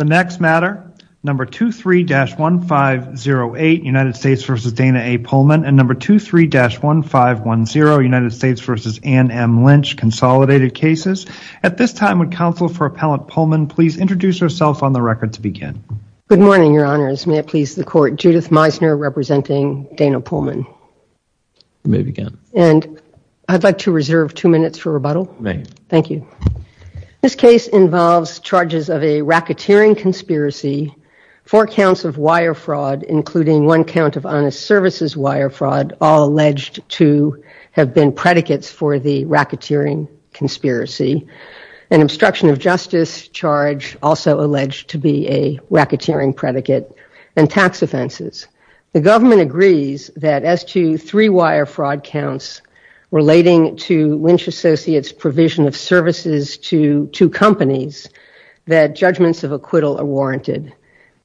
The next matter, number 23-1508, United States v. Dana A. Pullman, and number 23-1510, United States v. Ann M. Lynch, consolidated cases. At this time, would counsel for Appellant Pullman please introduce herself on the record to begin? Good morning, Your Honors. May it please the Court, Judith Meisner representing Dana Pullman. You may begin. And I'd like to reserve two minutes for rebuttal. May. Thank you. This case involves charges of a racketeering conspiracy, four counts of wire fraud, including one count of honest services wire fraud, all alleged to have been predicates for the racketeering conspiracy, an obstruction of justice charge also alleged to be a racketeering predicate, and tax offenses. The government agrees that as to three wire fraud counts relating to Lynch Associates' provision of services to two companies, that judgments of acquittal are warranted.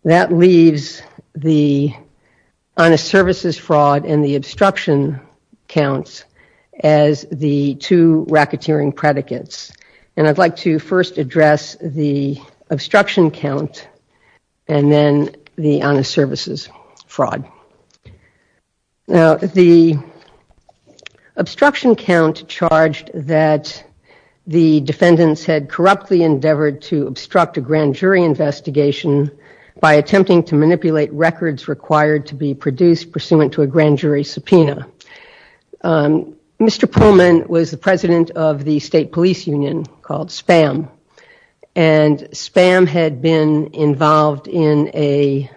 That leaves the honest services fraud and the obstruction counts as the two racketeering predicates. And I'd like to first address the obstruction count, and then the honest services fraud. Now, the obstruction count charged that the defendants had corruptly endeavored to obstruct a grand jury investigation by attempting to manipulate records required to be produced pursuant to a grand jury subpoena. Mr. Pullman was the president of the state police union called SPAM, and SPAM had been involved in a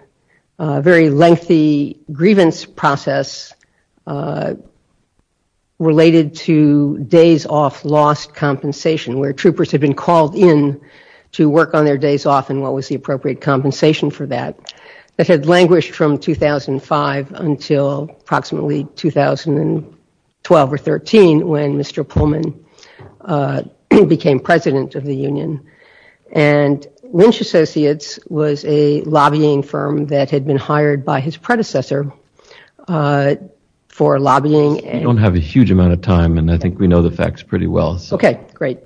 very lengthy grievance process related to days off lost compensation, where troopers had been called in to work on their days off and what was the appropriate compensation for that. That had languished from 2005 until approximately 2012 or 13, when Mr. Pullman became president of the union. And Lynch Associates was a lobbying firm that had been hired by his predecessor for lobbying. We don't have a huge amount of time, and I think we know the facts pretty well. Okay, great.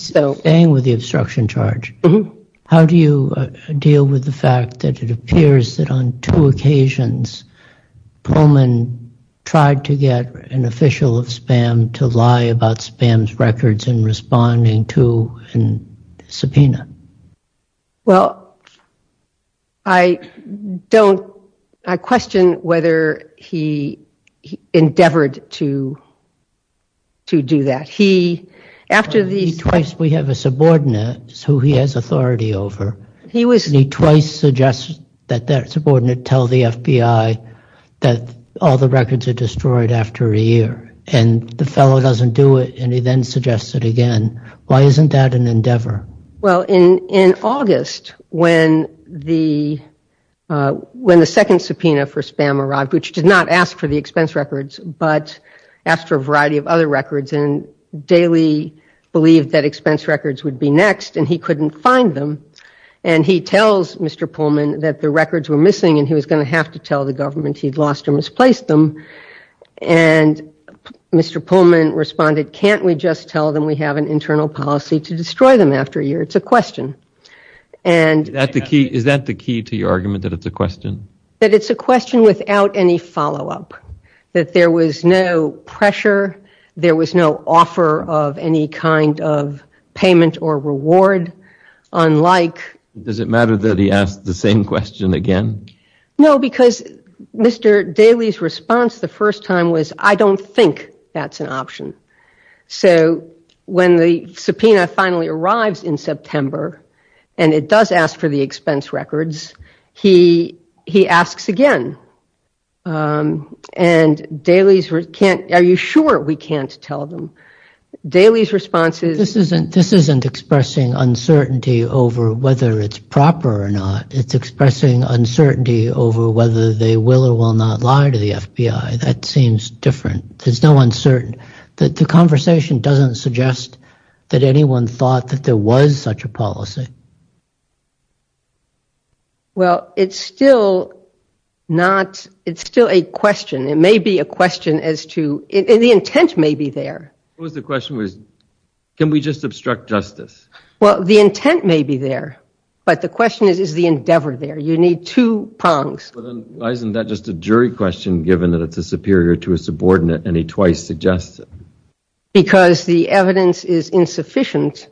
Staying with the obstruction charge, how do you deal with the fact that it appears that on two occasions, Pullman tried to get an official of SPAM to lie about SPAM's records in responding to a subpoena? Well, I don't, I question whether he endeavored to do that. He, after the- Twice, we have a subordinate who he has authority over, and he twice suggests that that subordinate tell the FBI that all the records are destroyed after a year. And the fellow doesn't do it, and he then suggests it again. Why isn't that an endeavor? Well, in August, when the second subpoena for SPAM arrived, which did not ask for the expense records, but asked for a variety of other records, and Daley believed that expense records would be next, and he couldn't find them. And he tells Mr. Pullman that the records were missing, and he was going to have to tell the government he'd lost or misplaced them. And Mr. Pullman responded, can't we just tell them we have an internal policy to destroy them after a year? It's a question. Is that the key to your argument, that it's a question? That it's a question without any follow-up, that there was no pressure, there was no offer of any kind of payment or reward, unlike- Does it matter that he asked the same question again? No, because Mr. Daley's response the first time was, I don't think that's an option. So when the subpoena finally arrives in September, and it does ask for the expense records, he asks again. And Daley's- Are you sure we can't tell them? Daley's response is- This isn't expressing uncertainty over whether it's proper or not. It's expressing uncertainty over whether they will or will not lie to the FBI. That seems different. There's no uncertain- The conversation doesn't suggest that anyone thought that there was such a policy. Well, it's still not- It's still a question. It may be a question as to- The intent may be there. What was the question? Can we just obstruct justice? Well, the intent may be there, but the question is, is the endeavor there? You need two prongs. Well, then, why isn't that just a jury question, given that it's a superior to a subordinate, and he twice suggests it? Because the evidence is insufficient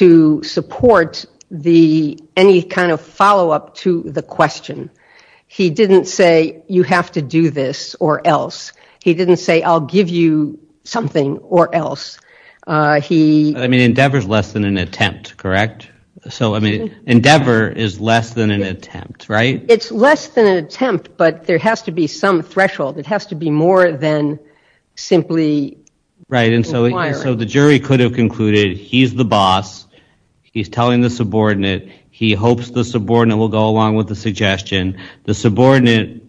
to support any kind of follow-up to the question. He didn't say, you have to do this or else. He didn't say, I'll give you something or else. I mean, endeavor is less than an attempt, correct? So, I mean, endeavor is less than an attempt, right? It's less than an attempt, but there has to be some threshold. It has to be more than simply requiring- Right, and so the jury could have concluded, he's the boss. He's telling the subordinate. He hopes the subordinate will go along with the suggestion. The subordinate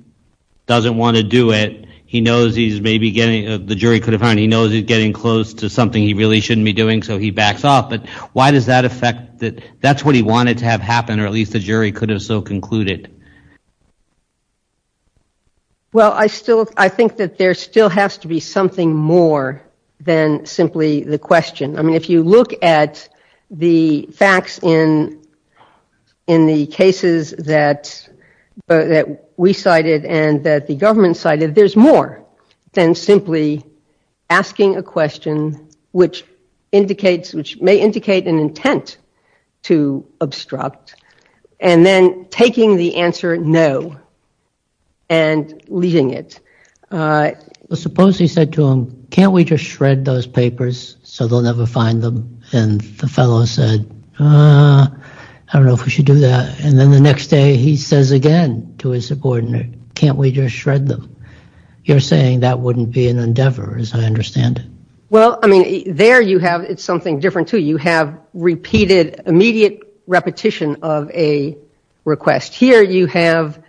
doesn't want to do it. He knows he's maybe getting- The jury could have found he knows he's getting close to something he really shouldn't be doing, so he backs off. But why does that affect- That's what he wanted to have happen, or at least the jury could have so concluded. Well, I still- I think that there still has to be something more than simply the question. I mean, if you look at the facts in the cases that we cited and that the government cited, there's more than simply asking a question which indicates- which may indicate an intent to obstruct and then taking the answer no and leaving it. Suppose he said to him, can't we just shred those papers so they'll never find them? And the fellow said, I don't know if we should do that. And then the next day, he says again to his subordinate, can't we just shred them? You're saying that wouldn't be an endeavor as I understand it. Well, I mean, there you have- it's something different too. You have repeated immediate repetition of a request. Here you have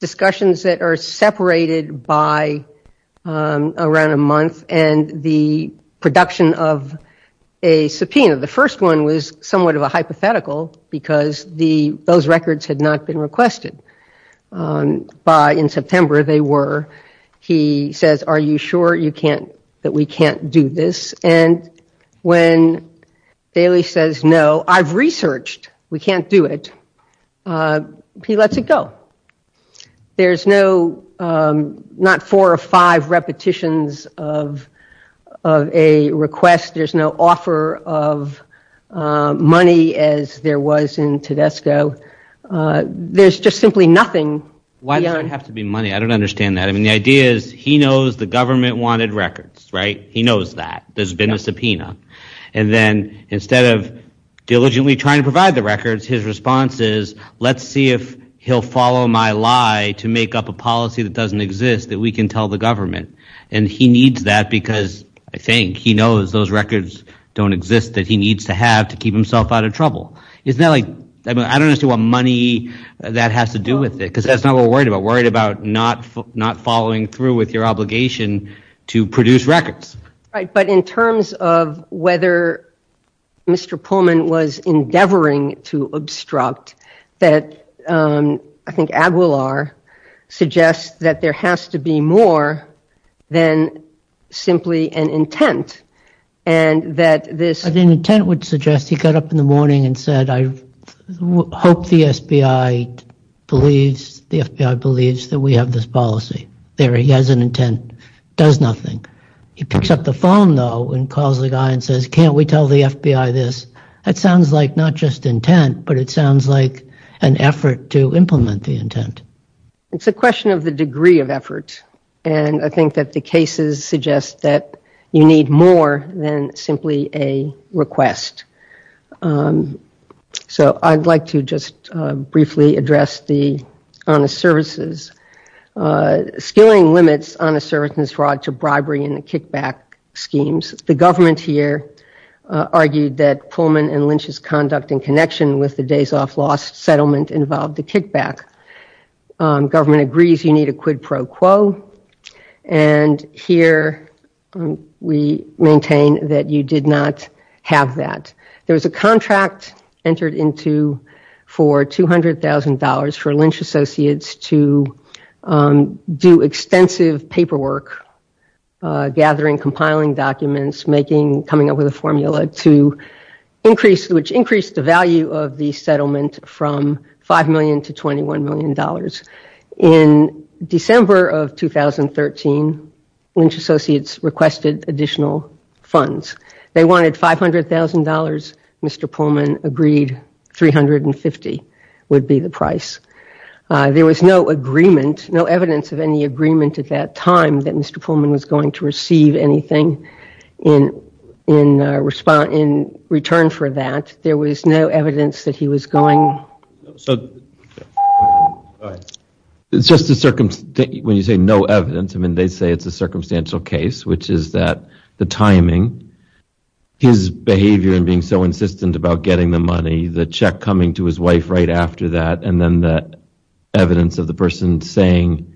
discussions that are separated by around a month and the production of a subpoena. The first one was somewhat of a hypothetical because those records had not been requested. By- in September, they were. He says, are you sure you can't- that we can't do this? And when Daly says, no, I've researched. We can't do it. He lets it go. There's no- not four or five repetitions of a request. There's no offer of money as there was in Tedesco. There's just simply nothing. Why does it have to be money? I don't understand that. I mean, the idea is he knows the government wanted records, right? He knows that. There's been a subpoena. And then instead of diligently trying to provide the records, his response is, let's see if he'll follow my lie to make up a policy that doesn't exist that we can tell the government. And he needs that because, I think, he knows those records don't exist that he needs to have to keep himself out of trouble. Isn't that like- I mean, I don't understand what money that has to do with it because that's not what we're worried about. We're worried about not following through with your obligation to produce records. Right. But in terms of whether Mr. Pullman was endeavoring to obstruct that, I think Aguilar suggests that there has to be more than simply an intent. And that this- An intent would suggest he got up in the morning and said, I hope the FBI believes that we have this policy. There, he has an intent. Does nothing. He picks up the phone, though, and calls the guy and says, can't we tell the FBI this? That sounds like not just intent, but it sounds like an effort to implement the intent. It's a question of the degree of effort. And I think that the cases suggest that you need more than simply a request. So I'd like to just briefly address the honest services. Skilling limits honest services brought to bribery and the kickback schemes. The government here argued that Pullman and Lynch's conduct in connection with the Days of Kickback. Government agrees you need a quid pro quo. And here, we maintain that you did not have that. There was a contract entered into for $200,000 for Lynch Associates to do extensive paperwork, gathering, compiling documents, making, coming up with a formula to increase, which increased the value of the settlement from $5 million to $21 million. In December of 2013, Lynch Associates requested additional funds. They wanted $500,000. Mr. Pullman agreed $350,000 would be the price. There was no agreement, no evidence of any agreement at that time that Mr. Pullman was going to receive anything in return for that. There was no evidence that he was going. So it's just a circumstance when you say no evidence, I mean, they say it's a circumstantial case, which is that the timing, his behavior and being so insistent about getting the money, the check coming to his wife right after that, and then the evidence of the person saying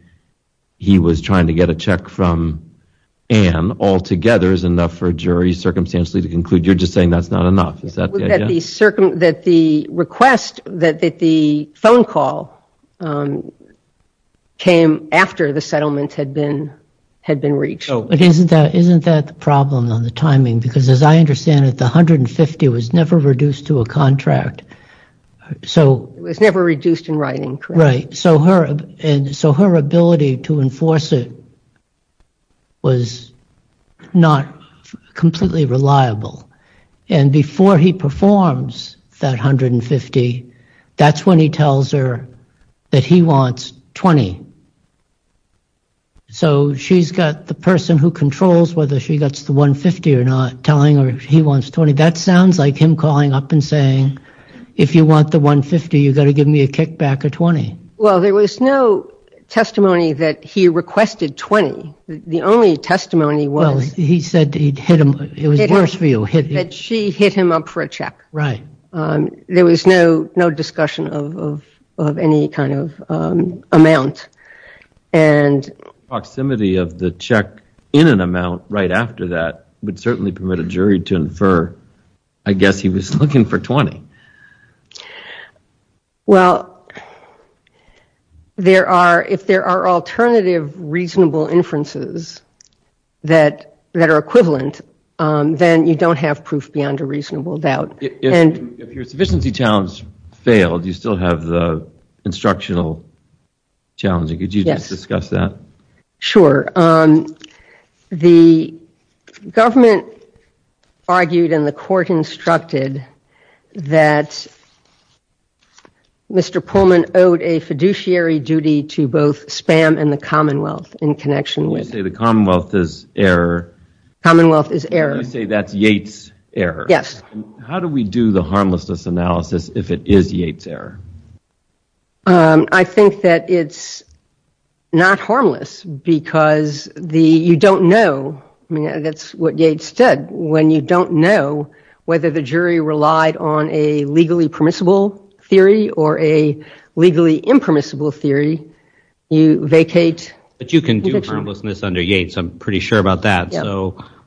he was trying to get a check from Ann altogether is enough for a jury circumstantially to conclude you're just saying that's not enough. Is that the idea? That the request, that the phone call came after the settlement had been reached. Isn't that the problem on the timing? Because as I understand it, the $150,000 was never reduced to a contract. So it was never reduced in writing, correct? Right. So her ability to enforce it was not completely reliable. And before he performs that $150,000, that's when he tells her that he wants $20,000. So she's got the person who controls whether she gets the $150,000 or not telling her he wants $20,000. That sounds like him calling up and saying, if you want the $150,000, you've got to give me a kickback of $20,000. Well, there was no testimony that he requested $20,000. The only testimony was... He said he'd hit him. It was worse for you. That she hit him up for a check. Right. There was no discussion of any kind of amount. And proximity of the check in an amount right after that would certainly permit a jury to infer, I guess he was looking for $20,000. Well, if there are alternative reasonable inferences that are equivalent, then you don't have proof beyond a reasonable doubt. If your sufficiency challenge failed, you still have the instructional challenge. Could you discuss that? Sure. The government argued and the court instructed that Mr. Pullman owed a fiduciary duty to both SPAM and the Commonwealth in connection with... When you say the Commonwealth is error... Commonwealth is error... When you say that's Yates' error... Yes. How do we do the harmlessness analysis if it is Yates' error? I think that it's not harmless because you don't know. That's what Yates said. When you don't know whether the jury relied on a legally permissible theory or a legally impermissible theory, you vacate... But you can do harmlessness under Yates. I'm pretty sure about that.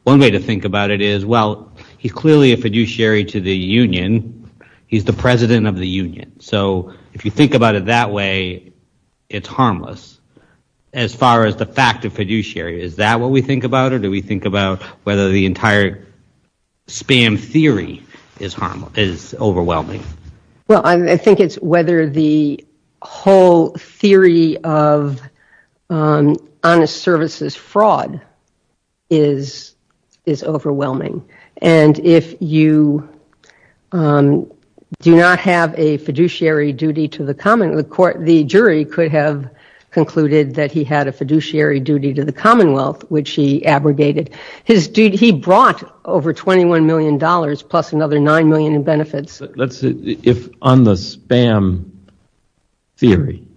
One way to think about it is, well, he's clearly a fiduciary to the union. He's the president of the union. So if you think about it that way, it's harmless. As far as the fact of fiduciary, is that what we think about or do we think about whether the entire SPAM theory is overwhelming? Well, I think it's whether the whole theory of honest services fraud is overwhelming. And if you do not have a fiduciary duty to the Commonwealth, the jury could have concluded that he had a fiduciary duty to the Commonwealth, which he abrogated. He brought over $21 million plus another $9 million in benefits. If on the SPAM theory,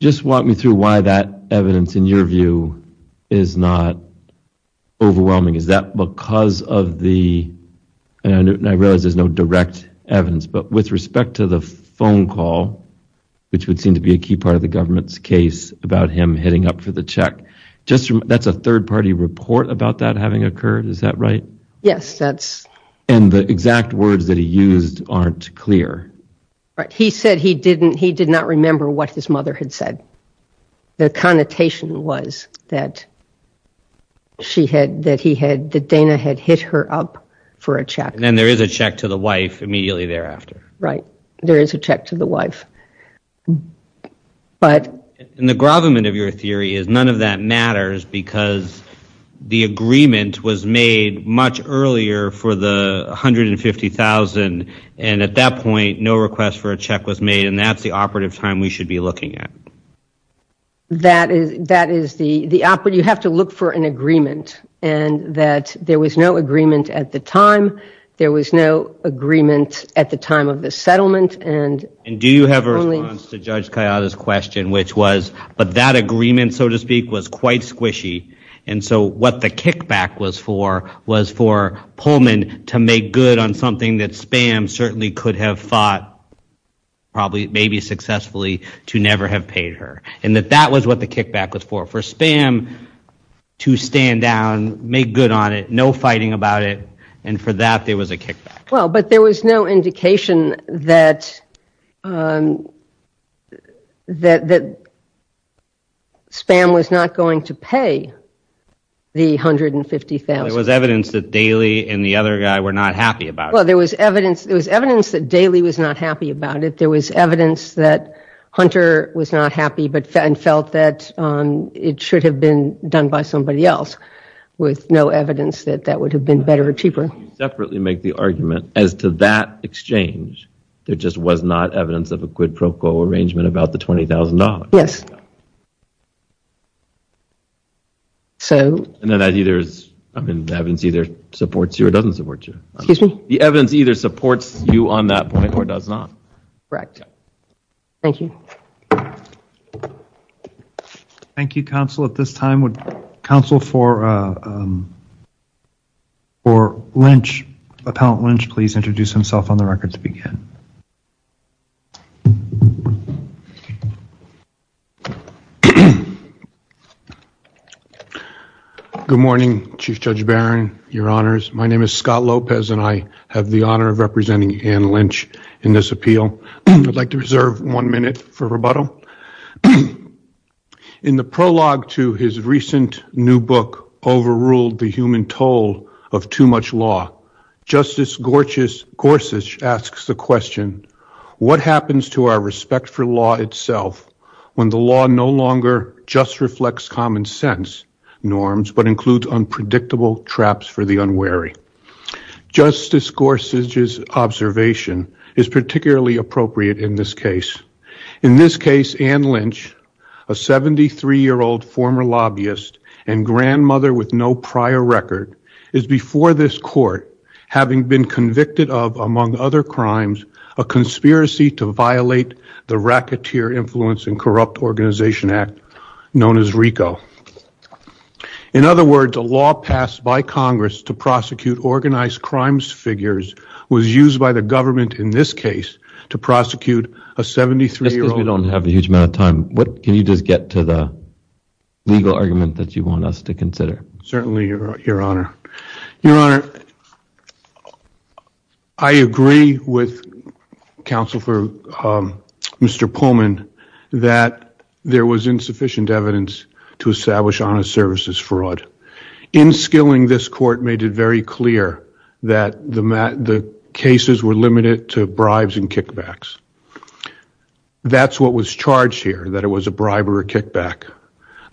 just walk me through why that evidence in your view is not overwhelming. Is that because of the... And I realize there's no direct evidence, but with respect to the phone call, which would seem to be a key part of the government's case about him hitting up for the check, that's a third party report about that having occurred. Is that right? Yes, that's... And the exact words that he used aren't clear. He said he did not remember what his mother had said. The connotation was that she had, that he had, that Dana had hit her up for a check. And there is a check to the wife immediately thereafter. Right. There is a check to the wife. But... And the grovelment of your theory is none of that matters because the agreement was made much earlier for the $150,000 and at that point, no request for a check was made and that's the operative time we should be looking at. That is the operative... You have to look for an agreement and that there was no agreement at the time. There was no agreement at the time of the settlement and... And do you have a response to Judge Kayada's question, which was, but that agreement, so to speak, was quite squishy. And so what the kickback was for was for Pullman to make good on something that SPAM certainly could have fought, probably, maybe successfully, to never have paid her. And that that was what the kickback was for. For SPAM to stand down, make good on it, no fighting about it, and for that there was a kickback. Well, but there was no indication that SPAM was not going to pay the $150,000. There was evidence that Daly and the other guy were not happy about it. Well, there was evidence that Daly was not happy about it. There was evidence that Hunter was not happy and felt that it should have been done by somebody else, with no evidence that that would have been better or cheaper. You separately make the argument as to that exchange, there just was not evidence of a quid pro quo arrangement about the $20,000. So... And then that either is, I mean, the evidence either supports you or doesn't support you. Excuse me? The evidence either supports you on that point or does not. Correct. Thank you. Thank you, Counsel. At this time, would Counsel for Lynch, Appellant Lynch, please introduce himself on the record to begin. Good morning, Chief Judge Barron. Your Honors. My name is Scott Lopez and I have the honor of representing Anne Lynch in this appeal. I'd like to reserve one minute for rebuttal. In the prologue to his recent new book, Overruled, the Human Toll of Too Much Law, Justice Gorsuch asks the question, what happens to our respect for law itself when the law no longer just reflects common sense norms but includes unpredictable traps for the unwary? Justice Gorsuch's observation is particularly appropriate in this case. In this case, Anne Lynch, a 73-year-old former lobbyist and grandmother with no prior record, is before this court having been convicted of, among other crimes, a conspiracy to violate the Racketeer Influence and Corrupt Organization Act, known as RICO. In other words, a law passed by Congress to prosecute organized crimes figures was used by the government in this case to prosecute a 73-year-old. Just because we don't have a huge amount of time, can you just get to the legal argument that you want us to consider? Certainly, Your Honor. Your Honor, I agree with Counsel for Mr. Pullman that there was insufficient evidence to establish honest services fraud. In skilling, this court made it very clear that the cases were limited to bribes and kickbacks. That's what was charged here, that it was a bribe or a kickback.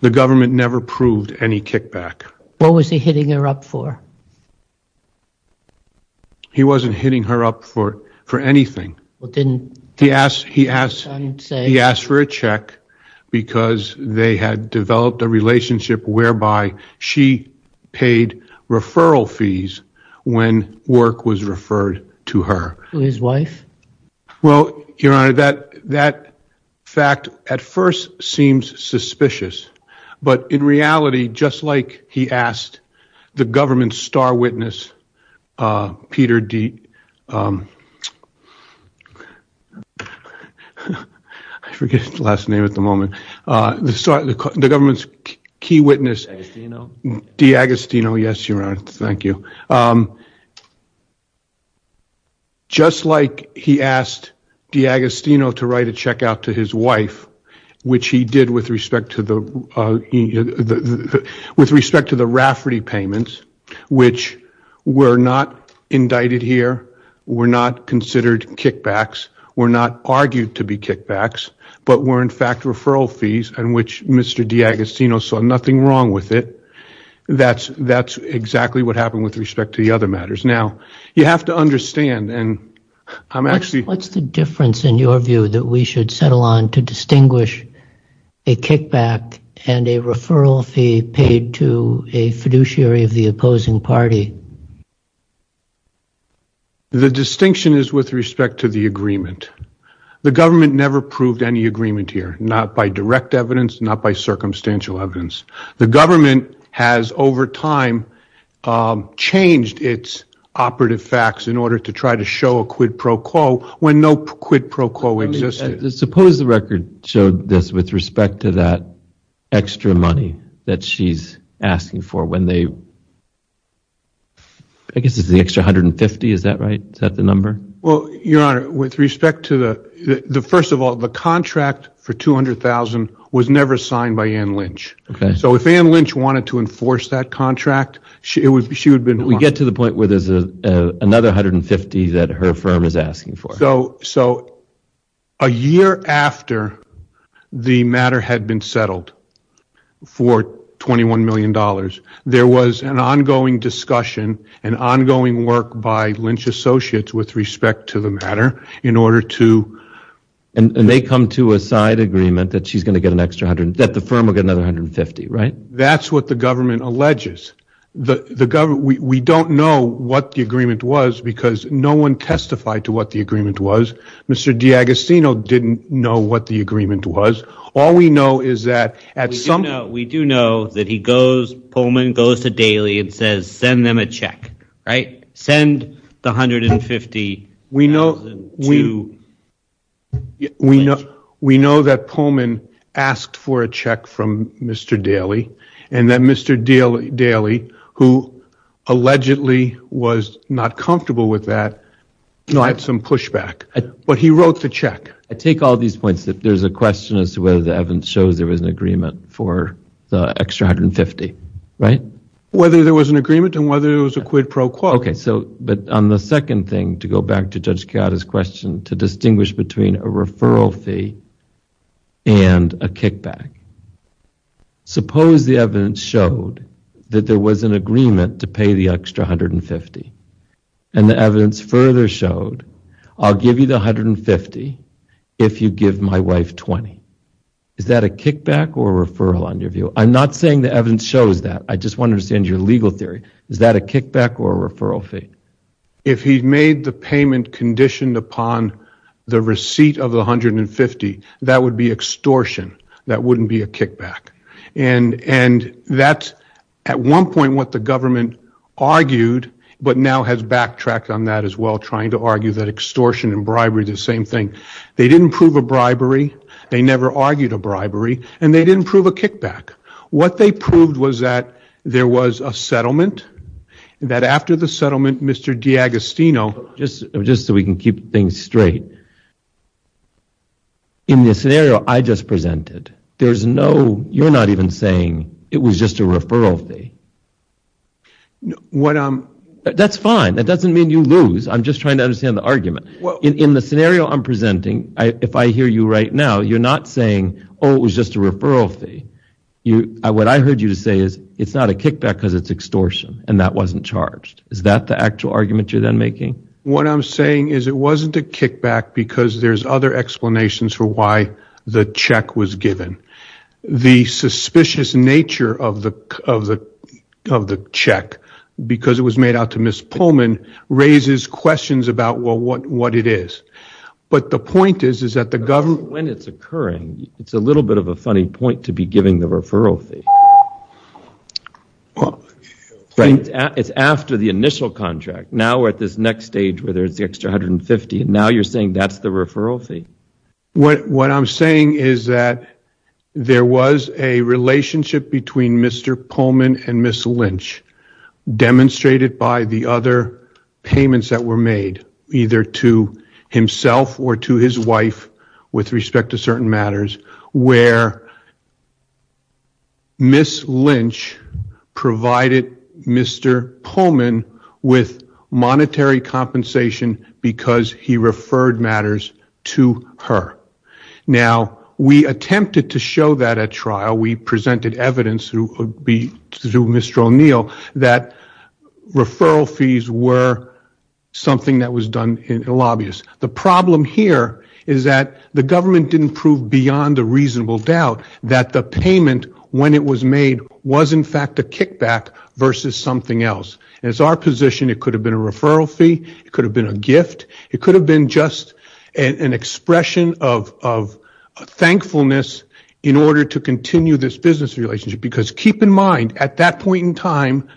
The government never proved any kickback. What was he hitting her up for? He wasn't hitting her up for anything. He asked for a check because they had developed a relationship whereby she paid referral fees when work was referred to her. To his wife? Well, Your Honor, that fact at first seems suspicious, but in reality, just like he asked the government's star witness, Peter D.... I forget his last name at the moment. The government's key witness. D. Agostino. Yes, Your Honor. Thank you. Just like he asked D. Agostino to write a check out to his wife, which he did with respect to the Rafferty payments, which were not indicted here, were not considered kickbacks, were not argued to be kickbacks, but were in fact referral fees and which Mr. D. Agostino saw nothing wrong with it. That's exactly what happened with respect to the other matters. Now, you have to understand, and I'm actually... What's the difference in your view that we should settle on to distinguish a kickback and a referral fee paid to a fiduciary of the opposing party? The distinction is with respect to the agreement. The government never proved any agreement here. Not by direct evidence, not by circumstantial evidence. The government has, over time, changed its operative facts in order to try to show a quid pro quo when no quid pro quo existed. Suppose the record showed this with respect to that extra money that she's asking for when they... I guess it's the extra 150, is that right? Is that the number? Your Honor, with respect to the... First of all, the contract for $200,000 was never signed by Ann Lynch. If Ann Lynch wanted to enforce that contract, she would have been... We get to the point where there's another 150 that her firm is asking for. A year after the matter had been settled for $21 million, there was an ongoing discussion, an ongoing work by Lynch Associates with respect to the matter in order to... And they come to a side agreement that the firm will get another 150, right? That's what the government alleges. We don't know what the agreement was because no one testified to what the agreement was. Mr. DiAgostino didn't know what the agreement was. All we know is that at some... We do know that Pullman goes to Daley and says, send them a check, right? Send the $150,000 to... We know that Pullman asked for a check from Mr. Daley, and that Mr. Daley, who allegedly was not comfortable with that, had some pushback. But he wrote the check. I take all these points that there's a question as to whether the evidence shows there was an agreement for the extra 150, right? Whether there was an agreement and whether it was a quid pro quo. But on the second thing, to go back to Judge Chiara's question, to distinguish between a referral fee and a kickback. Suppose the evidence showed that there was an agreement to pay the extra 150. And the evidence further showed, I'll give you the 150 if you give my wife 20. Is that a kickback or a referral on your view? I'm not saying the evidence shows that. I just want to understand your legal theory. Is that a kickback or a referral fee? If he made the payment conditioned upon the receipt of the 150, that would be extortion. That wouldn't be a kickback. And that's, at one point, what the government argued, but now has backtracked on that as well, trying to argue that extortion and bribery are the same thing. They didn't prove a bribery. They never argued a bribery. And they didn't prove a kickback. What they proved was that there was a settlement, that after the settlement, Mr. DiAgostino... Just so we can keep things straight, in the scenario I just presented, you're not even saying it was just a referral fee. That's fine. That doesn't mean you lose. I'm just trying to understand the argument. In the scenario I'm presenting, if I hear you right now, you're not saying, oh, it was just a referral fee. What I heard you say is, it's not a kickback because it's extortion, and that wasn't charged. Is that the actual argument you're then making? What I'm saying is it wasn't a kickback because there's other explanations for why the check was given. The suspicious nature of the check, because it was made out to Ms. Pullman, raises questions about what it is. But the point is that the government... When it's occurring, it's a little bit of a funny point to be giving the referral fee. It's after the initial contract. Now we're at this next stage where there's the extra $150,000. Now you're saying that's the referral fee? What I'm saying is that there was a relationship between Mr. Pullman and Ms. Lynch, demonstrated by the other payments that were made, either to himself or to his wife with respect to certain matters, where Ms. Lynch provided Mr. Pullman with monetary compensation because he referred matters to her. Now we attempted to show that at trial. We presented evidence through Mr. O'Neill that referral fees were something that was done in a lobbyist. The problem here is that the government didn't prove beyond a reasonable doubt that the payment, when it was made, was in fact a kickback versus something else. As our position, it could have been a referral fee, it could have been a gift, it could have been just an expression of thankfulness in order to continue this business relationship. Because keep in mind, at that point in time,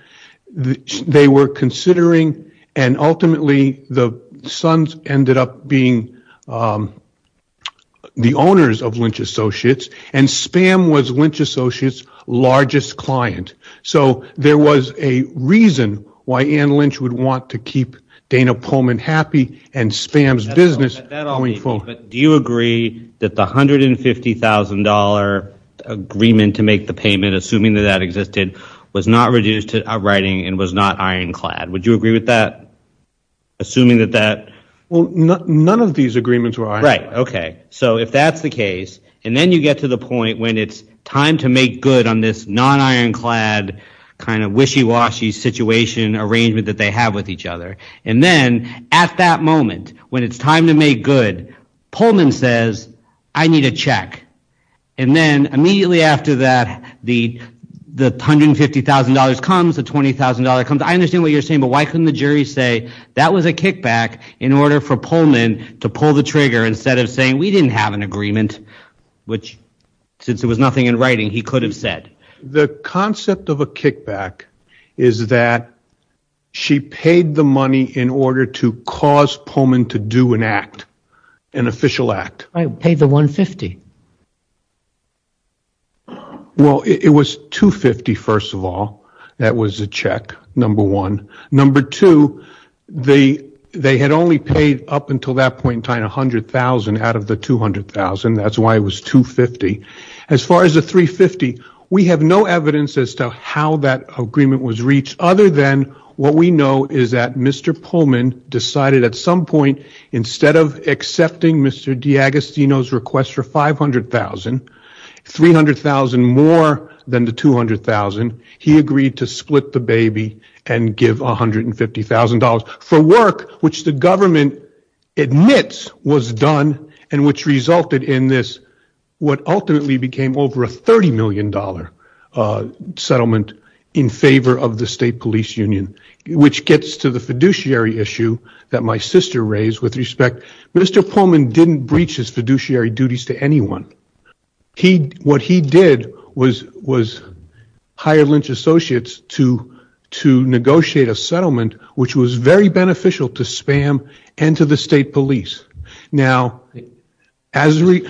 they were considering, and ultimately the Sons ended up being the owners of Lynch Associates, and Spam was Lynch Associates' largest client. So there was a reason why Anne Lynch would want to keep Dana Pullman happy and Spam's business going forward. Do you agree that the $150,000 agreement to make the payment, assuming that that existed, was not reduced to writing and was not ironclad? Would you agree with that? Assuming that that... Well, none of these agreements were ironclad. Right, okay. So if that's the case, and then you get to the point when it's time to make good on this non-ironclad, kind of wishy-washy situation arrangement that they have with each other, and then, at that moment, when it's time to make good, Pullman says, I need a check. And then, immediately after that, the $150,000 comes, the $20,000 comes. I understand what you're saying, but why couldn't the jury say, that was a kickback, in order for Pullman to pull the trigger instead of saying, we didn't have an agreement, which, since there was nothing in writing, he could have said. The concept of a kickback is that she paid the money in order to cause Pullman to do an act, an official act. Right, pay the $150,000. Well, it was $250,000, first of all. That was a check, number one. Number two, they had only paid, up until that point in time, $100,000 out of the $200,000. That's why it was $250,000. As far as the $350,000, we have no evidence as to how that agreement was reached, other than what we know is that Mr. Pullman decided at some point, instead of accepting Mr. DiAgostino's request for $500,000, $300,000 more than the $200,000, he agreed to split the baby and give $150,000 for work, which the government admits was done, and which resulted in this, what ultimately became over a $30 million settlement, in favor of the State Police Union, which gets to the fiduciary issue that my sister raised with respect. Mr. Pullman didn't breach his fiduciary duties to anyone. What he did was hire Lynch Associates to negotiate a settlement, which was very beneficial to SPAM and to the State Police. Now, as we...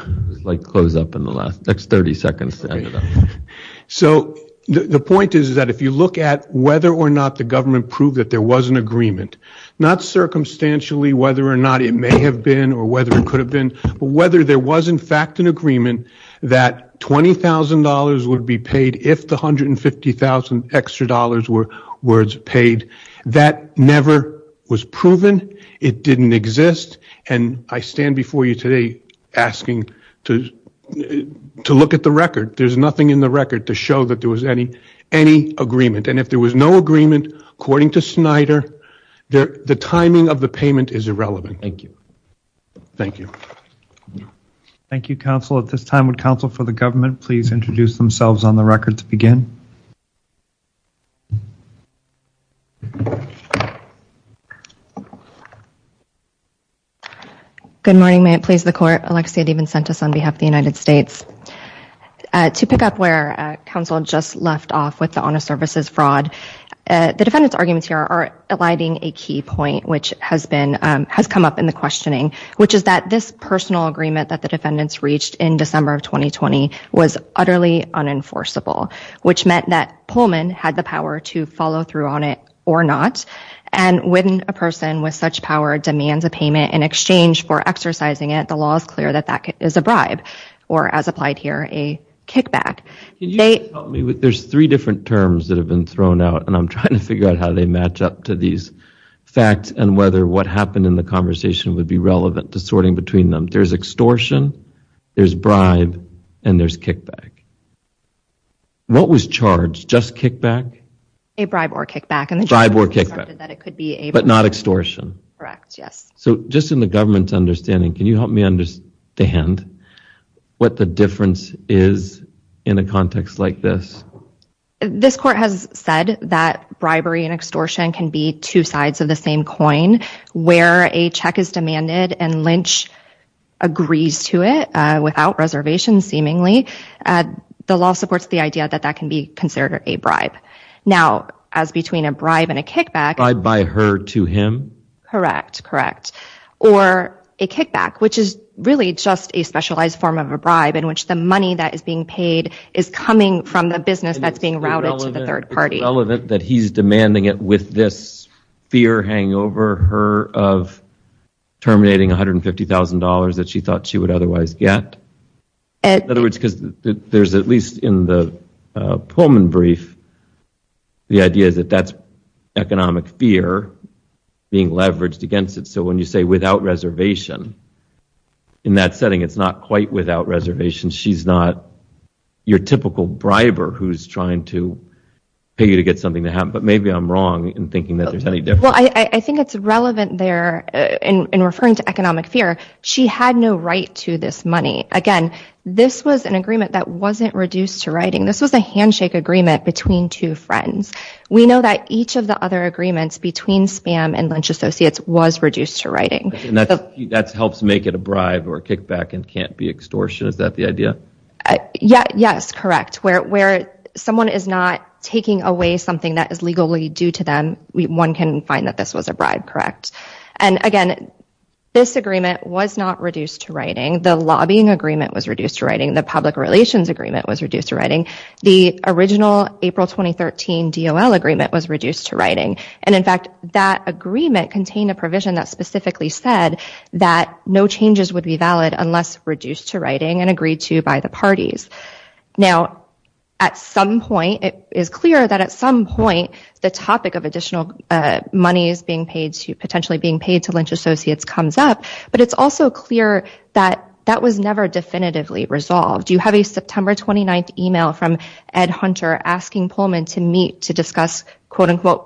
The point is that if you look at whether or not the government proved that there was an agreement, not circumstantially whether or not it may have been, or whether it could have been, but whether there was in fact an agreement that $20,000 would be paid if the $150,000 extra were paid, that never was proven. It didn't exist. And I stand before you today asking to look at the record. There's nothing in the record to show that there was any agreement. And if there was no agreement, according to Snyder, the timing of the payment is irrelevant. Thank you. Thank you, counsel. At this time, would counsel for the government please introduce themselves on the record to begin? Good morning. May it please the Court. Alexia DiVincente on behalf of the United States. To pick up where counsel just left off with the honor services fraud, the defendant's arguments here are alighting a key point which has come up in the questioning, which is that this personal agreement that the defendants reached in December of 2020 was utterly unenforceable, which meant that Pullman had the power to follow through on it or not. And when a person with such power demands a payment in exchange for exercising it, the law is clear that that is a bribe, or as applied here, a kickback. There's three different terms that have been thrown out, and I'm trying to figure out how they match up to these facts and whether what happened in the conversation would be relevant to sorting between them. There's extortion, there's bribe, and there's kickback. What was charged? Just kickback? A bribe or kickback. But not extortion? Correct, yes. So just in the government's understanding, can you help me understand what the difference is in a context like this? This court has said that bribery and extortion can be two sides of the same coin. Where a check is demanded and Lynch agrees to it without reservation, seemingly, the law supports the idea that that can be considered a bribe. Now, as between a bribe and a kickback... A bribe by her to him? Correct. Or a kickback, which is really just a specialized form of a bribe in which the money that is being paid is coming from the business that's being routed to the third party. Is it relevant that he's demanding it with this fear hanging over her of terminating $150,000 that she thought she would otherwise get? In other words, because there's at least in the Pullman brief, the idea is that that's economic fear being leveraged against it. So when you say without reservation, in that setting it's not quite without reservation. She's not your typical briber who's trying to pay you to get something to happen. But maybe I'm wrong in thinking that there's any difference. I think it's relevant there in referring to economic fear. She had no right to this money. Again, this was an agreement that wasn't reduced to writing. This was a handshake agreement between two friends. We know that each of the other agreements between Spam and Lynch Associates was reduced to writing. That helps make it a bribe or a kickback and can't be extortion. Is that the idea? Yes, correct. Where someone is not taking away something that is legally due to them, one can find that this was a bribe, correct? Again, this agreement was not reduced to writing. The lobbying agreement was reduced to writing. The public relations agreement was reduced to writing. The original April 2013 DOL agreement was reduced to writing. In fact, that agreement contained a provision that specifically said that no changes would be valid unless reduced to writing and agreed to by the parties. Now, it is clear that at some point the topic of additional money potentially being paid to Lynch Associates comes up. But it's also clear that that was never definitively resolved. You have a September 29th email from Ed Hunter asking Pullman to meet to discuss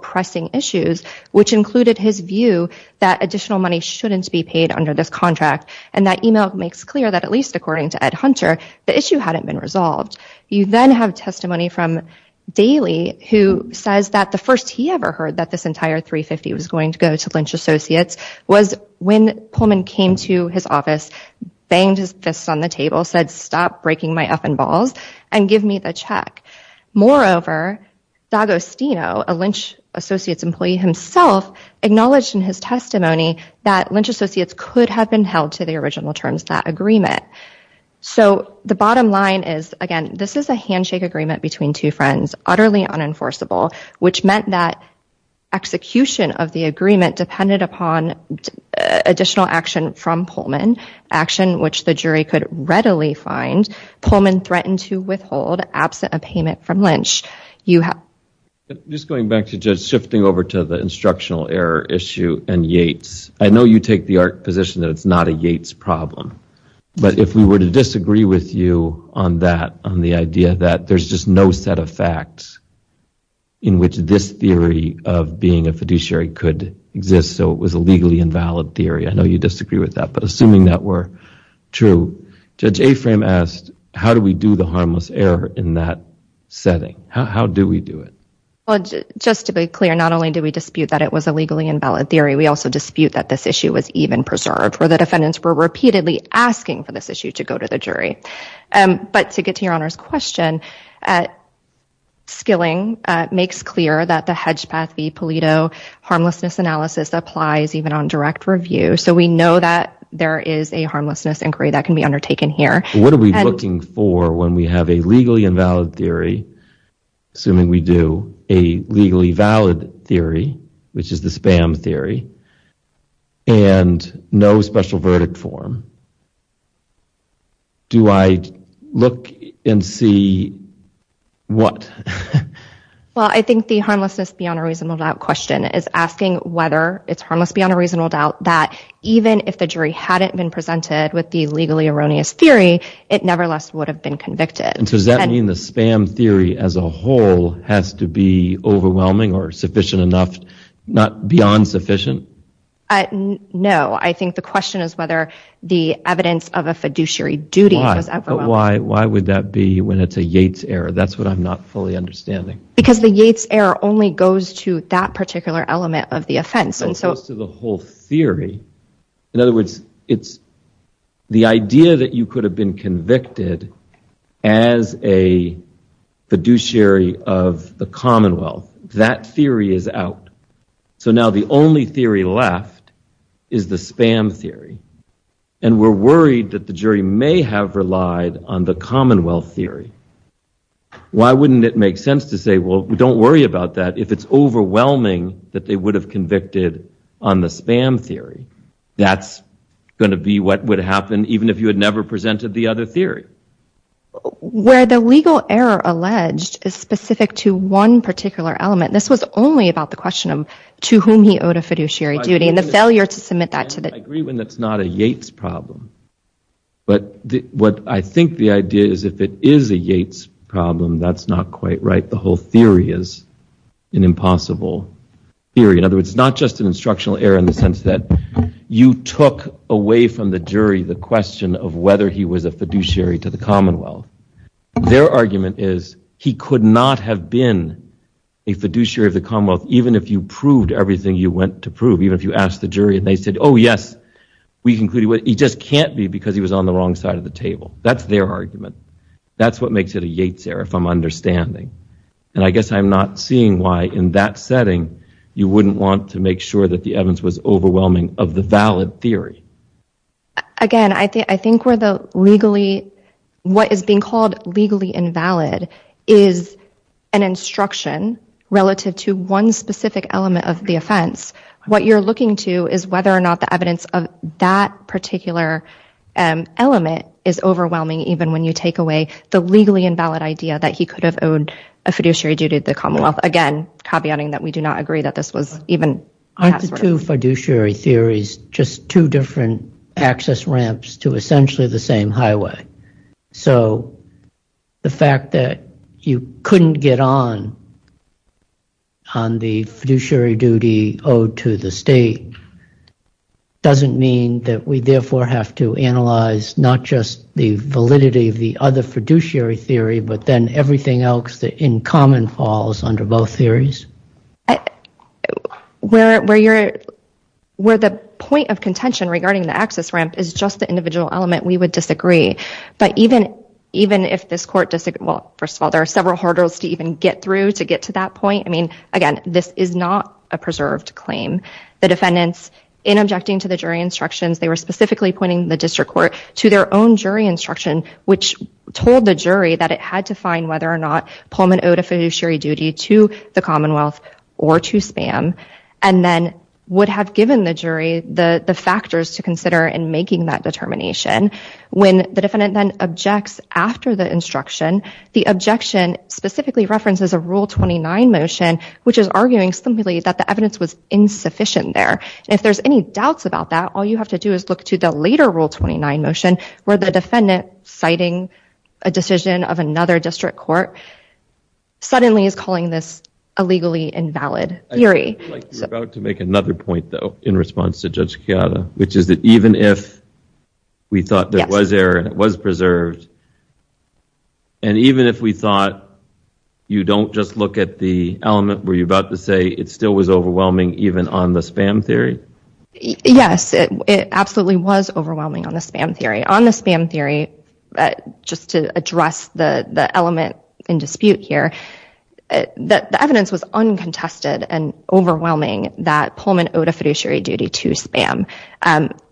pressing issues, which included his view that additional money shouldn't be paid under this contract. And that email makes clear that at least according to Ed Hunter, the issue hadn't been resolved. You then have testimony from Daly who says that the first he ever heard that this entire 350 was going to go to Lynch Associates was when Pullman came to his office, banged his fist on the table, said, stop breaking my up and balls and give me the check. Moreover, D'Agostino, a Lynch Associates employee himself, acknowledged in his testimony that Lynch Associates could have been held to the original terms of that agreement. So the bottom line is, again, this is a handshake agreement between two friends, utterly unenforceable, which meant that execution of the agreement depended upon additional action from Pullman, action which the jury could readily find. Pullman threatened to withhold absent a payment from Lynch. Just going back to Judge, shifting over to the instructional error issue and Yates. I know you take the position that it's not a Yates problem, but if we were to disagree with you on that, on the idea that there's just no set of facts in which this theory of being a fiduciary could exist, so it was a legally invalid theory. I know you disagree with that, but assuming that were true, Judge Aframe asked, how do we do the harmless error in that setting? How do we do it? Just to be clear, not only do we dispute that it was a legally invalid theory, we also dispute that this issue was even preserved, where the defendants were repeatedly asking for this issue to go to the jury. But to get to Your Honor's question, Skilling makes clear that the Hedgepath v. Pulido harmlessness analysis applies even on direct review. So we know that there is a harmlessness inquiry that can be undertaken here. What are we looking for when we have a legally invalid theory, assuming we do, a legally valid theory, which is the spam theory, and no special verdict form? Do I look and see what? Well, I think the harmlessness beyond a reasonable doubt question is asking whether it's harmless beyond a reasonable doubt that even if the jury hadn't been presented with the legally erroneous theory, it nevertheless would have been convicted. And so does that mean the spam theory as a whole has to be overwhelming or sufficient enough, but not beyond sufficient? No, I think the question is whether the evidence of a fiduciary duty is overwhelming. Why would that be when it's a Yates error? That's what I'm not fully understanding. Because the Yates error only goes to that particular element of the offense. It goes to the whole theory. In other words, it's the idea that you could have been convicted as a fiduciary of the Commonwealth. That theory is out. So now the only theory left is the spam theory. And we're worried that the jury may have relied on the Commonwealth theory. Why wouldn't it make sense to say, well, don't worry about that if it's overwhelming that they would have convicted on the spam theory? That's going to be what would happen even if you had never presented the other theory. Where the legal error alleged is specific to one particular element. This was only about the question of to whom he owed a fiduciary duty and the failure to submit that. I agree when it's not a Yates problem. But what I think the idea is if it is a Yates problem, that's not quite right. The whole theory is an impossible theory. In other words, it's not just an instructional error in the sense that you took away from the jury the question of whether he was a fiduciary to the Commonwealth. Their argument is he could not have been a fiduciary of the Commonwealth even if you proved everything you went to prove. Even if you asked the jury and they said, oh, yes. He just can't be because he was on the wrong side of the table. That's their argument. That's what makes it a Yates error if I'm understanding. I guess I'm not seeing why in that setting you wouldn't want to make sure the evidence was overwhelming of the valid theory. Again, I think what is being called legally invalid is an instruction relative to one specific element of the offense. What you're looking to is whether or not the evidence of that particular element is overwhelming even when you take away the legally invalid idea that he could have owed a fiduciary duty to the Commonwealth. Again, caveating that we do not agree that this was even a password. Aren't the two fiduciary theories just two different access ramps to essentially the same highway? The fact that you couldn't get on on the fiduciary duty owed to the state doesn't mean that we therefore have to analyze not just the validity of the other fiduciary theory, but then everything else that in common falls under both theories? Where the point of contention regarding the access ramp is just the individual element, we would disagree. First of all, there are several hurdles to even get through to get to that point. Again, this is not a preserved claim. The defendants, in objecting to the jury instructions, they were specifically pointing the district court to their own jury instruction which told the jury that it had to find whether or not Pullman owed a fiduciary duty to the Commonwealth or to Spam, and then would have given the jury the factors to consider in making that determination. When the defendant then objects after the instruction, the objection specifically references a Rule 29 motion which is arguing simply that the evidence was insufficient there. If there's any doubts about that, all you have to do is look to the later Rule 29 motion where the defendant citing a decision of another district court suddenly is calling this a legally invalid theory. You're about to make another point, though, in response to Judge Chiara, which is that even if we thought there was error and it was preserved, and even if we thought you don't just look at the element where you're about to say it still was overwhelming even on the Spam theory? Yes, it absolutely was overwhelming on the Spam theory. On the Spam theory, just to address the element in dispute here, the evidence was uncontested and overwhelming that Pullman owed a fiduciary duty to Spam.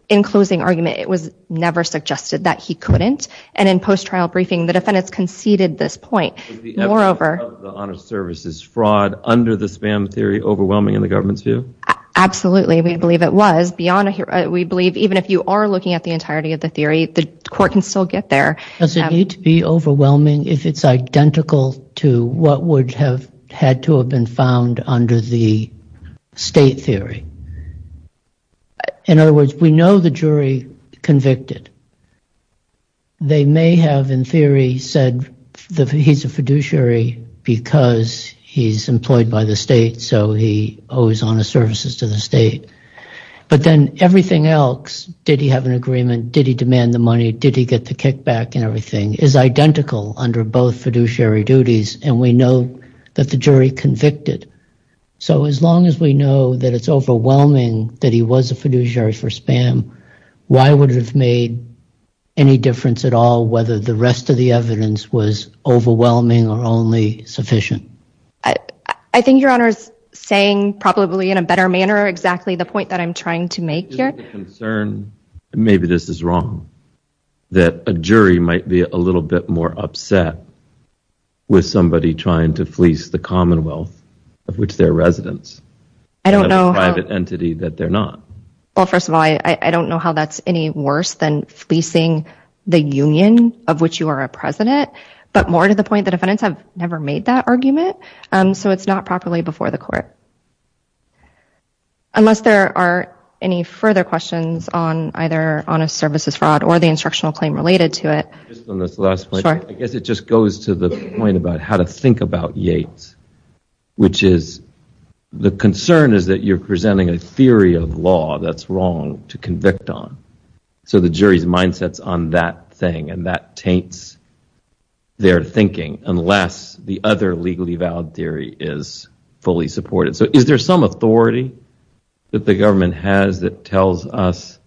In closing argument, it was never suggested that he couldn't, and in post-trial briefing, the defendants conceded this point. Was the evidence of the honor service fraud under the Spam theory overwhelming in the government's view? Absolutely, we believe it was. Even if you are looking at the entirety of the theory, the court can still get there. Does it need to be overwhelming if it's identical to what would have had to have been found under the state theory? In other words, we know the jury convicted. They may have, in theory, said that he's a fiduciary because he's employed by the state, so he owes honor services to the state. But then everything else, did he have an agreement, did he demand the money, did he get the kickback and everything, is identical under both fiduciary duties, and we know that the jury convicted. So as long as we know that it's overwhelming that he was a fiduciary for Spam, why would it have made any difference at all whether the rest of the evidence was overwhelming or only sufficient? I think your honor is saying, probably in a better manner, exactly the point that I'm trying to make here. Maybe this is wrong, that a jury might be a little bit more upset with somebody trying to fleece the commonwealth, of which they're residents, and have a private entity that they're not. Well, first of all, I don't know how that's any worse than fleecing the union of which you are a president, but more to the point, the defendants have never made that argument, so it's not properly before the court. Unless there are any further questions on either honor services fraud or the instructional claim related to it. I guess it just goes to the point about how to think about Yates, which is the concern is that you're presenting a theory of law that's wrong to convict on. So the jury's mindset's on that thing, and that taints their thinking, unless the other legally valid theory is fully supported. So is there some authority that the government has that tells us,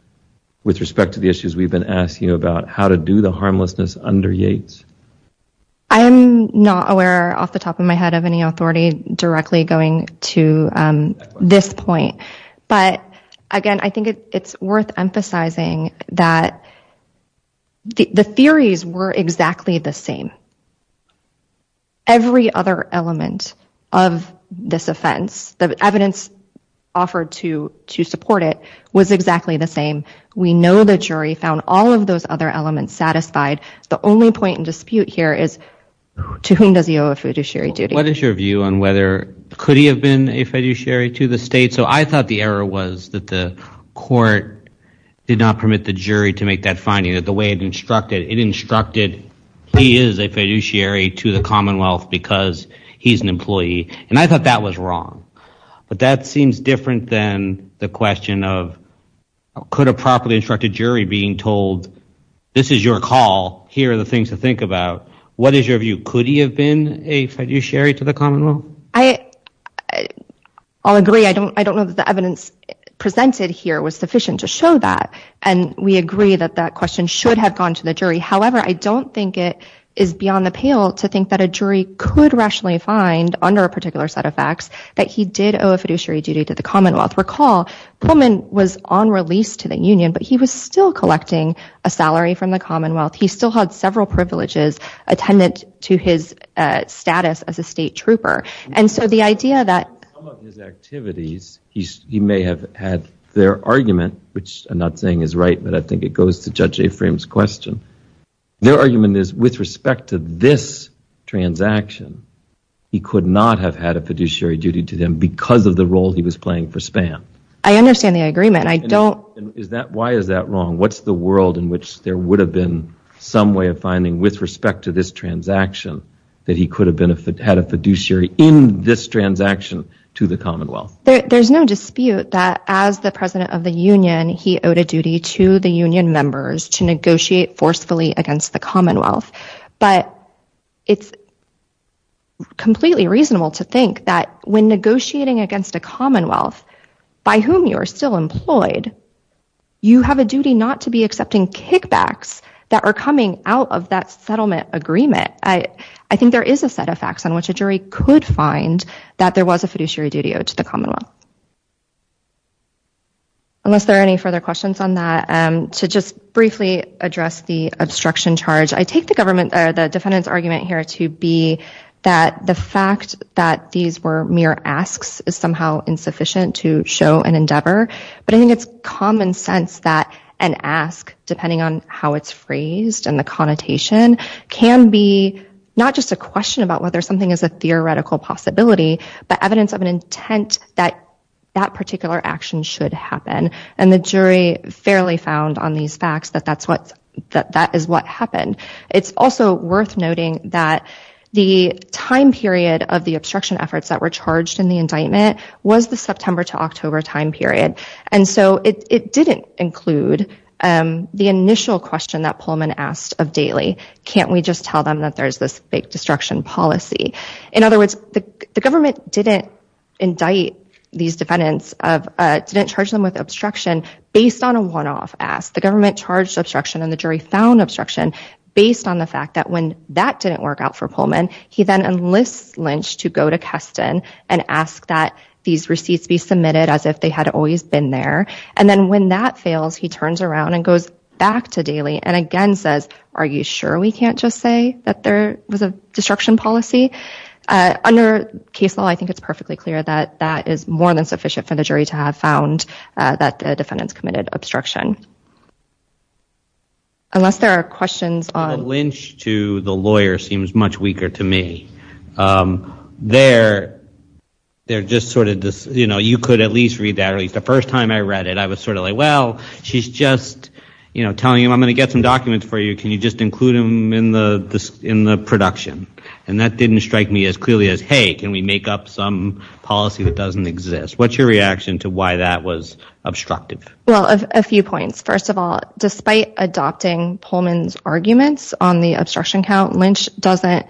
with respect to the issues we've been asking about, how to do the harmlessness under Yates? I am not aware, off the top of my head, of any authority directly going to this point. But again, I think it's worth emphasizing that the theories were exactly the same. Every other element of this offense, the evidence offered to support it, was exactly the same. We know the jury found all of those other elements satisfied. The only point in dispute here is to whom does he owe a fiduciary duty? What is your view on whether, could he have been a fiduciary to the state? So I thought the error was that the court did not permit the jury to make that finding, that the way it instructed, it instructed he is a fiduciary to the Commonwealth because he's an employee. And I thought that was wrong. But that seems different than the question of, could a properly instructed jury being told, this is your call, here are the things to think about, what is your view, could he have been a fiduciary to the Commonwealth? I'll agree. I don't know that the evidence presented here was sufficient to show that. And we agree that that question should have gone to the jury. However, I don't think it is beyond the pale to think that a jury could rationally find, under a particular set of facts, that he did owe a fiduciary duty to the Commonwealth. Recall, Pullman was on release to the Union, but he was still collecting a salary from the Commonwealth. He still had several privileges attendant to his status as a state trooper. Some of his activities, he may have had their argument, which I'm not saying is right, but I think it goes to Judge Afram's question. Their argument is, with respect to this transaction, he could not have had a fiduciary duty to them because of the role he was playing for SPAN. I understand the agreement. I don't... Why is that wrong? What's the world in which there would have been some way of finding, with respect to this transaction, that he could have had a fiduciary in this transaction to the Commonwealth? There's no dispute that, as the President of the Union, he owed a duty to the Union members to negotiate forcefully against the Commonwealth. But it's completely reasonable to think that, when negotiating against a Commonwealth, by whom you are still employed, you have a duty not to be accepting kickbacks that are coming out of that settlement agreement. I think there is a set of facts on which a jury could find that there was a fiduciary duty owed to the Commonwealth. Unless there are any further questions on that, to just briefly address the obstruction charge, I take the defendant's argument here to be that the fact that these were mere asks is somehow insufficient to show an endeavor, but I think it's common sense that an ask, depending on how it's phrased and the connotation, can be not just a question about whether something is a theoretical possibility, but evidence of an intent that that particular action should happen. And the jury fairly found on these facts that that is what happened. It's also worth noting that the time period of the obstruction efforts that were charged in the indictment was the September to October time period. And so it didn't include the initial question that Pullman asked of Daley. Can't we just tell them that there's this fake destruction policy? In other words, the government didn't indict these defendants, didn't charge them with obstruction, based on a one-off ask. The government charged obstruction and the jury found obstruction based on the fact that when that didn't work out for Pullman, he then enlists Lynch to go to Keston and ask that these receipts be submitted as if they had always been there. And then when that fails, he turns around and goes back to Daley and again says, are you sure we can't just say that there was a destruction policy? Under case law, I think it's perfectly clear that that is more than sufficient for the jury to have found that the defendants committed obstruction. Unless there are questions on... The Lynch to the lawyer seems much weaker to me. They're just sort of... You could at least read that. The first time I read it, I was sort of like, well, she's just telling him, I'm going to get some documents for you. Can you just include them in the production? And that didn't strike me as clearly as, hey, can we make up some policy that doesn't exist? What's your reaction to why that was obstructive? Well, a few points. First of all, despite adopting Pullman's arguments on the obstruction count, Lynch doesn't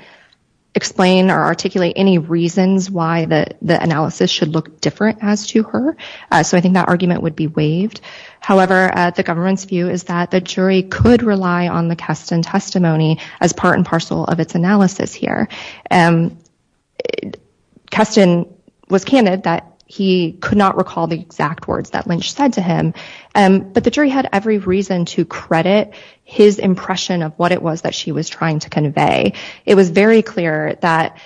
explain or articulate any reasons why the analysis should look different as to her. So I think that argument would be waived. However, the government's view is that the jury could rely on the Keston testimony as part and parcel of its analysis here. Keston was candid that he could not recall the exact words that Lynch said to him, but the jury had every reason to credit his impression of what it was that she was trying to convey. It was very clear that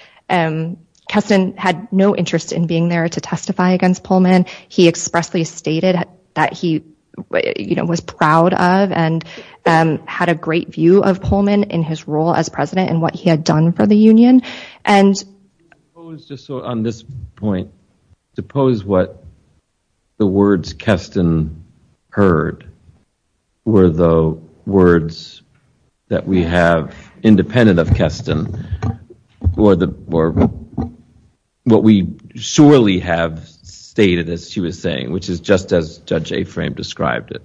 Keston had no interest in being there to testify against Pullman. He expressly stated that he was proud of and had a great view of Pullman in his role as president and what he had done for the union. On this point, suppose what the words Keston heard were the words that we have independent of Keston or what we surely have stated as she was saying, which is just as Judge Aframe described it,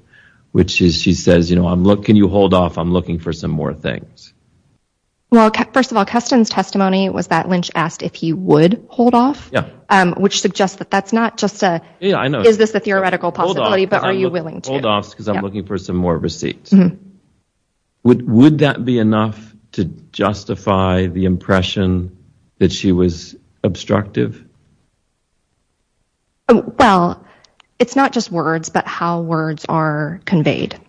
which is she says, you know, can you hold off? I'm looking for some more things. Well, first of all, Keston's testimony was that Lynch asked if he would hold off, which suggests that that's not just a, is this a theoretical possibility, but are you willing to? Hold off because I'm looking for some more receipts. Would that be enough to justify the impression that she was obstructive? Well, it's not just words, but how words are conveyed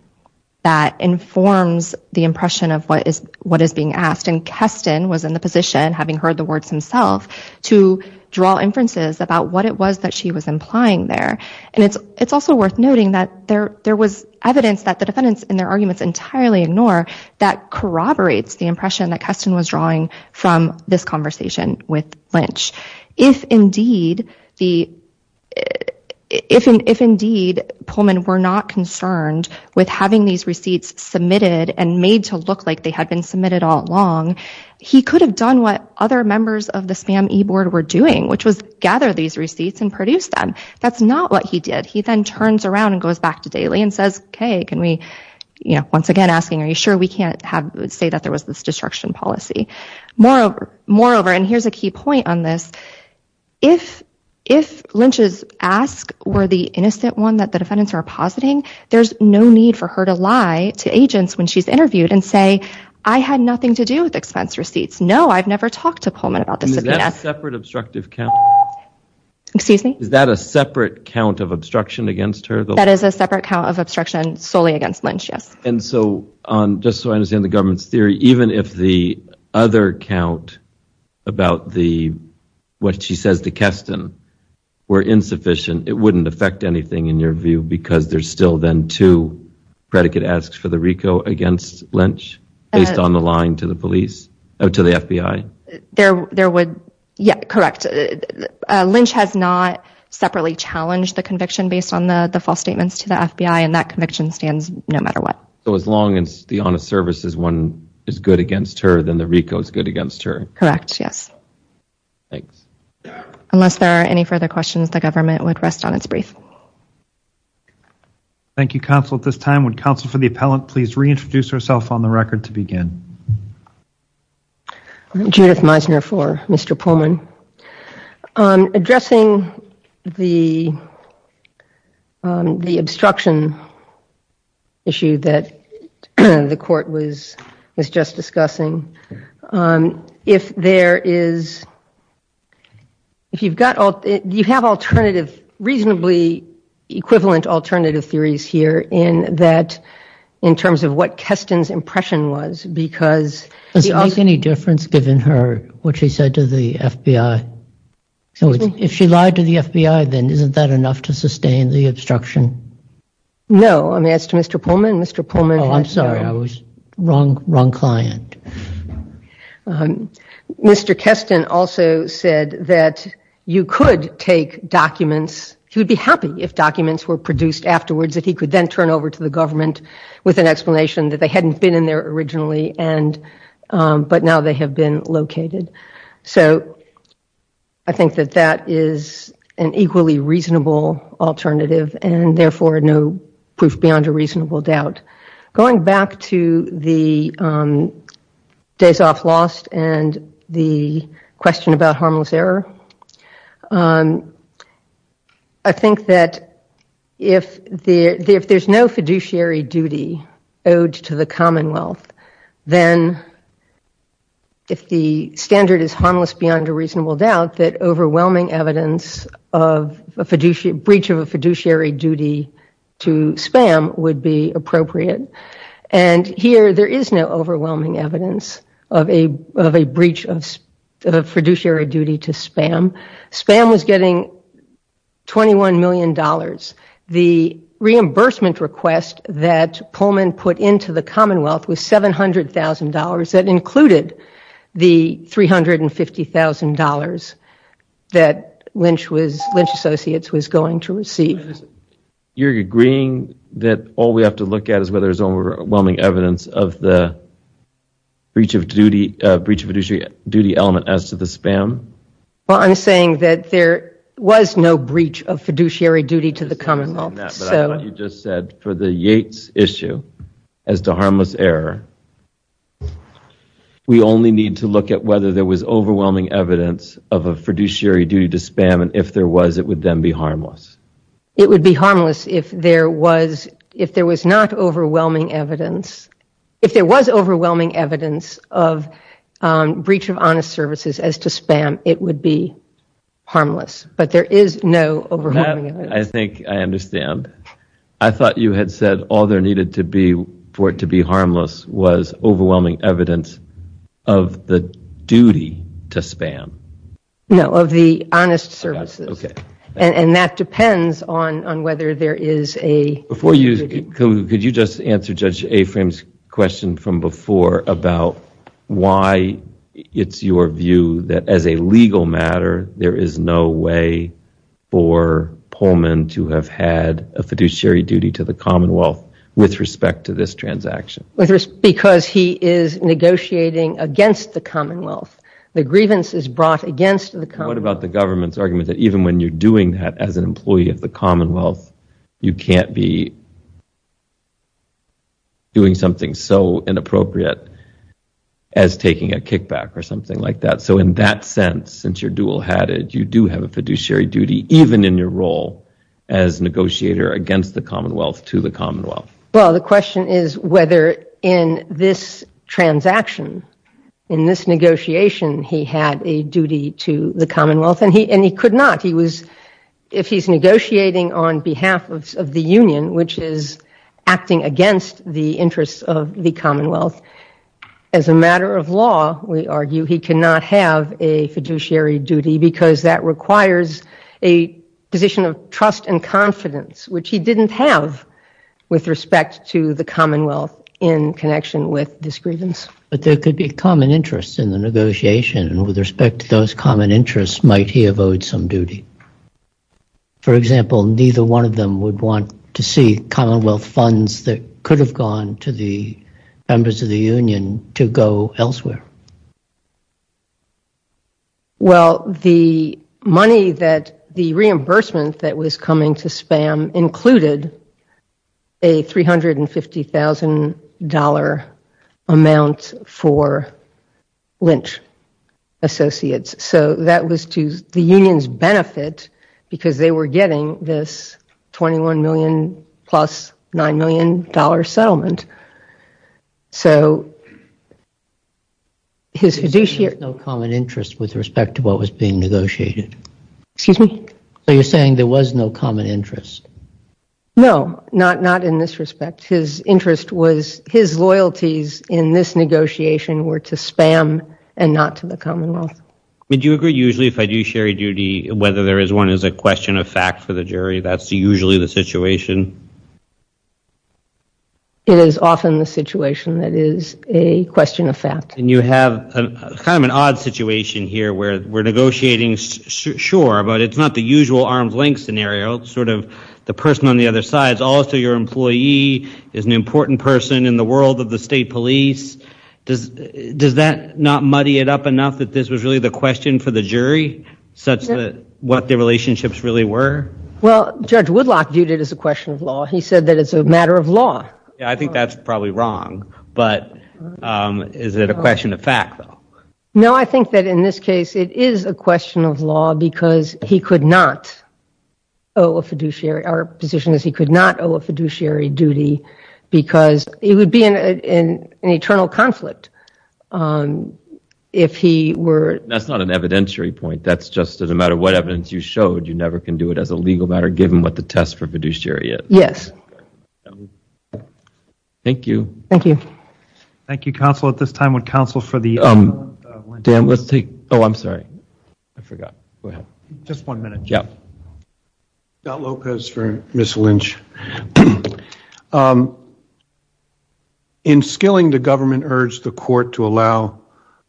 that informs the impression of what is being asked and Keston was in the position, having heard the words himself, to draw inferences about what it was that she was implying there. And it's also worth noting that there was evidence that the defendants in their arguments entirely ignore that corroborates the impression that Keston was drawing from this conversation with Lynch. If indeed Pullman were not concerned with having these receipts submitted and made to look like they had been submitted all along, he could have done what other members of the spam e-board were doing, which was gather these receipts and produce them. That's not what he did. He then turns around and goes back to Daly and says, okay, can we, you know, once again asking, are you sure we can't say that there was this destruction policy? Moreover, and here's a key point on this, if Lynch's ask were the innocent one that the defendants are positing, there's no need for her to lie to agents when she's interviewed and say, I had nothing to do with expense receipts. No, I've never talked to Pullman about this. Is that a separate obstructive counter? Excuse me? Is that a separate count of obstruction against her? That is a separate count of obstruction solely against Lynch, yes. And so, just so I understand the government's theory, even if the other count about what she says to Keston were insufficient, it wouldn't affect anything in your view because there's still then two predicate asks for the RICO against Lynch based on the lying to the FBI? There would, yeah, correct. Lynch has not separately challenged the conviction based on the false statements to the FBI and that conviction stands no matter what. So as long as the honest service is good against her, then the RICO is good against her? Correct, yes. Thanks. Unless there are any further questions, the government would rest on its brief. Thank you, counsel. At this time, would counsel for the appellant please reintroduce herself on the record to begin? Judith Meisner for Mr. Pullman. Addressing the obstruction issue that the court was just discussing, if there is, if you've got, you have alternative, reasonably equivalent alternative theories here in that in terms of what Keston's impression was because... Does it make any difference given her, what she said to the FBI? If she lied to the FBI, then isn't that enough to sustain the obstruction? No, I mean as to Mr. Pullman, Mr. Pullman... Oh, I'm sorry, I was wrong, wrong client. Mr. Keston also said that you could take documents, he would be happy if documents were produced afterwards, that he could then turn over to the government with an explanation that they hadn't been in there originally and, but now they have been located. So I think that that is an equally reasonable alternative and therefore no proof beyond a reasonable doubt. Going back to the days off lost and the question about harmless error, I think that if there's no fiduciary duty owed to the Commonwealth, then if the standard is harmless beyond a reasonable doubt, that overwhelming evidence of a fiduciary, breach of a fiduciary duty to spam would be appropriate and here there is no overwhelming evidence of a breach of fiduciary duty to spam. Spam was getting $21 million. The reimbursement request that Pullman put into the Commonwealth was $700,000 that included the $350,000 that Lynch Associates was going to receive. You're agreeing that all we have to look at is whether there's overwhelming evidence of the breach of fiduciary duty element as to the spam? Well, I'm saying that there was no breach of fiduciary duty to the Commonwealth. You just said for the Yates issue as to harmless error, we only need to look at whether there was overwhelming evidence of a fiduciary duty to spam and if there was, it would then be harmless. It would be harmless if there was not overwhelming evidence, if there was overwhelming evidence of breach of honest services as to spam, it would be harmless. But there is no overwhelming evidence. I think I understand. I thought you had said all there needed to be for it to be harmless was overwhelming evidence of the duty to spam. No, of the honest services. And that depends on whether there is a fiduciary duty. Could you just answer Judge Afram's question from before about why it's your view that as a legal matter, there is no way for Pullman to have had a fiduciary duty to the Commonwealth with respect to this transaction? Because he is negotiating against the Commonwealth. The grievance is brought against the Commonwealth. What about the government's argument that even when you're doing that as an employee of the Commonwealth, you can't be doing something so inappropriate as taking a kickback or something like that? So in that sense, since you're dual-hatted, you do have a fiduciary duty even in your role as negotiator against the Commonwealth to the Commonwealth? Well, the question is whether in this transaction, in this negotiation, he had a duty to the Commonwealth. And he could not. If he's negotiating on behalf of the Union, which is acting against the interests of the Commonwealth, as a matter of law, we argue he cannot have a fiduciary duty because that requires a position of trust and confidence, which he didn't have with respect to the Commonwealth in connection with this grievance. But there could be common interests in the negotiation, and with respect to those common interests, might he have owed some duty? For example, neither one of them would want to see Commonwealth funds that could have gone to the members of the Union to go elsewhere. Well, the money that the reimbursement that was coming to SPAM included a $350,000 amount for Lynch Associates. So that was to the Union's benefit because they were getting this $21 million plus $9 million settlement. So his fiduciary... There was no common interest with respect to what was being negotiated? Excuse me? So you're saying there was no common interest? No, not in this respect. His interest was, his loyalties in this negotiation were to SPAM and not to the Commonwealth. Do you agree, usually, fiduciary duty, whether there is one is a question of fact for the jury? That's usually the situation? It is often the situation that is a question of fact. And you have kind of an odd situation here where we're negotiating, sure, but it's not the usual arm's length scenario. It's sort of the person on the other side is also your employee, is an important person in the world of the state police. Does that not muddy it up enough that this was really the question for the jury such that what the relationships really were? Well, Judge Woodlock viewed it as a question of law. He said that it's a matter of law. Yeah, I think that's probably wrong. But is it a question of fact, though? No, I think that, in this case, it is a question of law because he could not owe a fiduciary... Our position is he could not owe a fiduciary duty because it would be an eternal conflict if he were... That's not an evidentiary point. That's just that no matter what evidence you showed, you never can do it as a legal matter given what the test for fiduciary is. Yes. Thank you. Thank you, counsel. At this time, would counsel for the... Dan, let's take... Oh, I'm sorry. I forgot. Go ahead. Just one minute. Yeah. Scott Lopez for Ms. Lynch. In skilling, the government urged the court to allow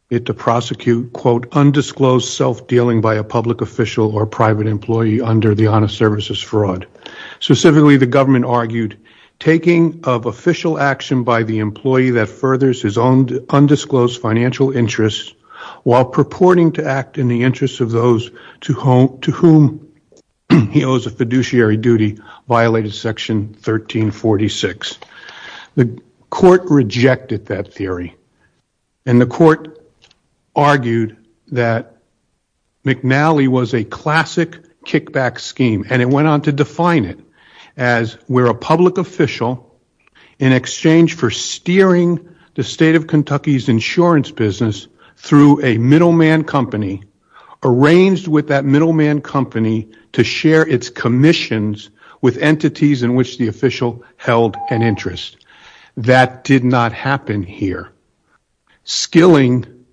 it to prosecute, quote, undisclosed self-dealing by a public official or private employee under the honest services fraud. Specifically, the government argued taking of official action by the employee that furthers his own undisclosed financial interests while purporting to act in the interest of those to whom he owes a fiduciary duty violated Section 1346. The court rejected that theory. And the court argued that McNally was a classic kickback scheme. And it went on to define it as where a public official, in exchange for steering the state of Kentucky's insurance business through a middleman company, arranged with that middleman company to share its commissions with entities in which the official held an interest. That did not happen here. Skilling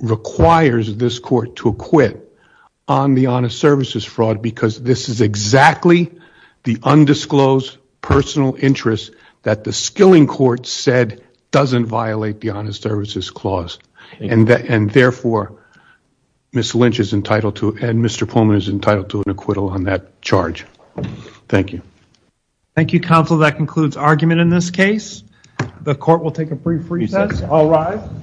requires this court to acquit on the honest services fraud because this is exactly the undisclosed personal interest that the skilling court said doesn't violate the honest services clause. And therefore, Ms. Lynch is entitled to, and Mr. Pullman is entitled to an acquittal on that charge. Thank you. Thank you, counsel. That concludes argument in this case. The court will take a brief recess. I'll rise.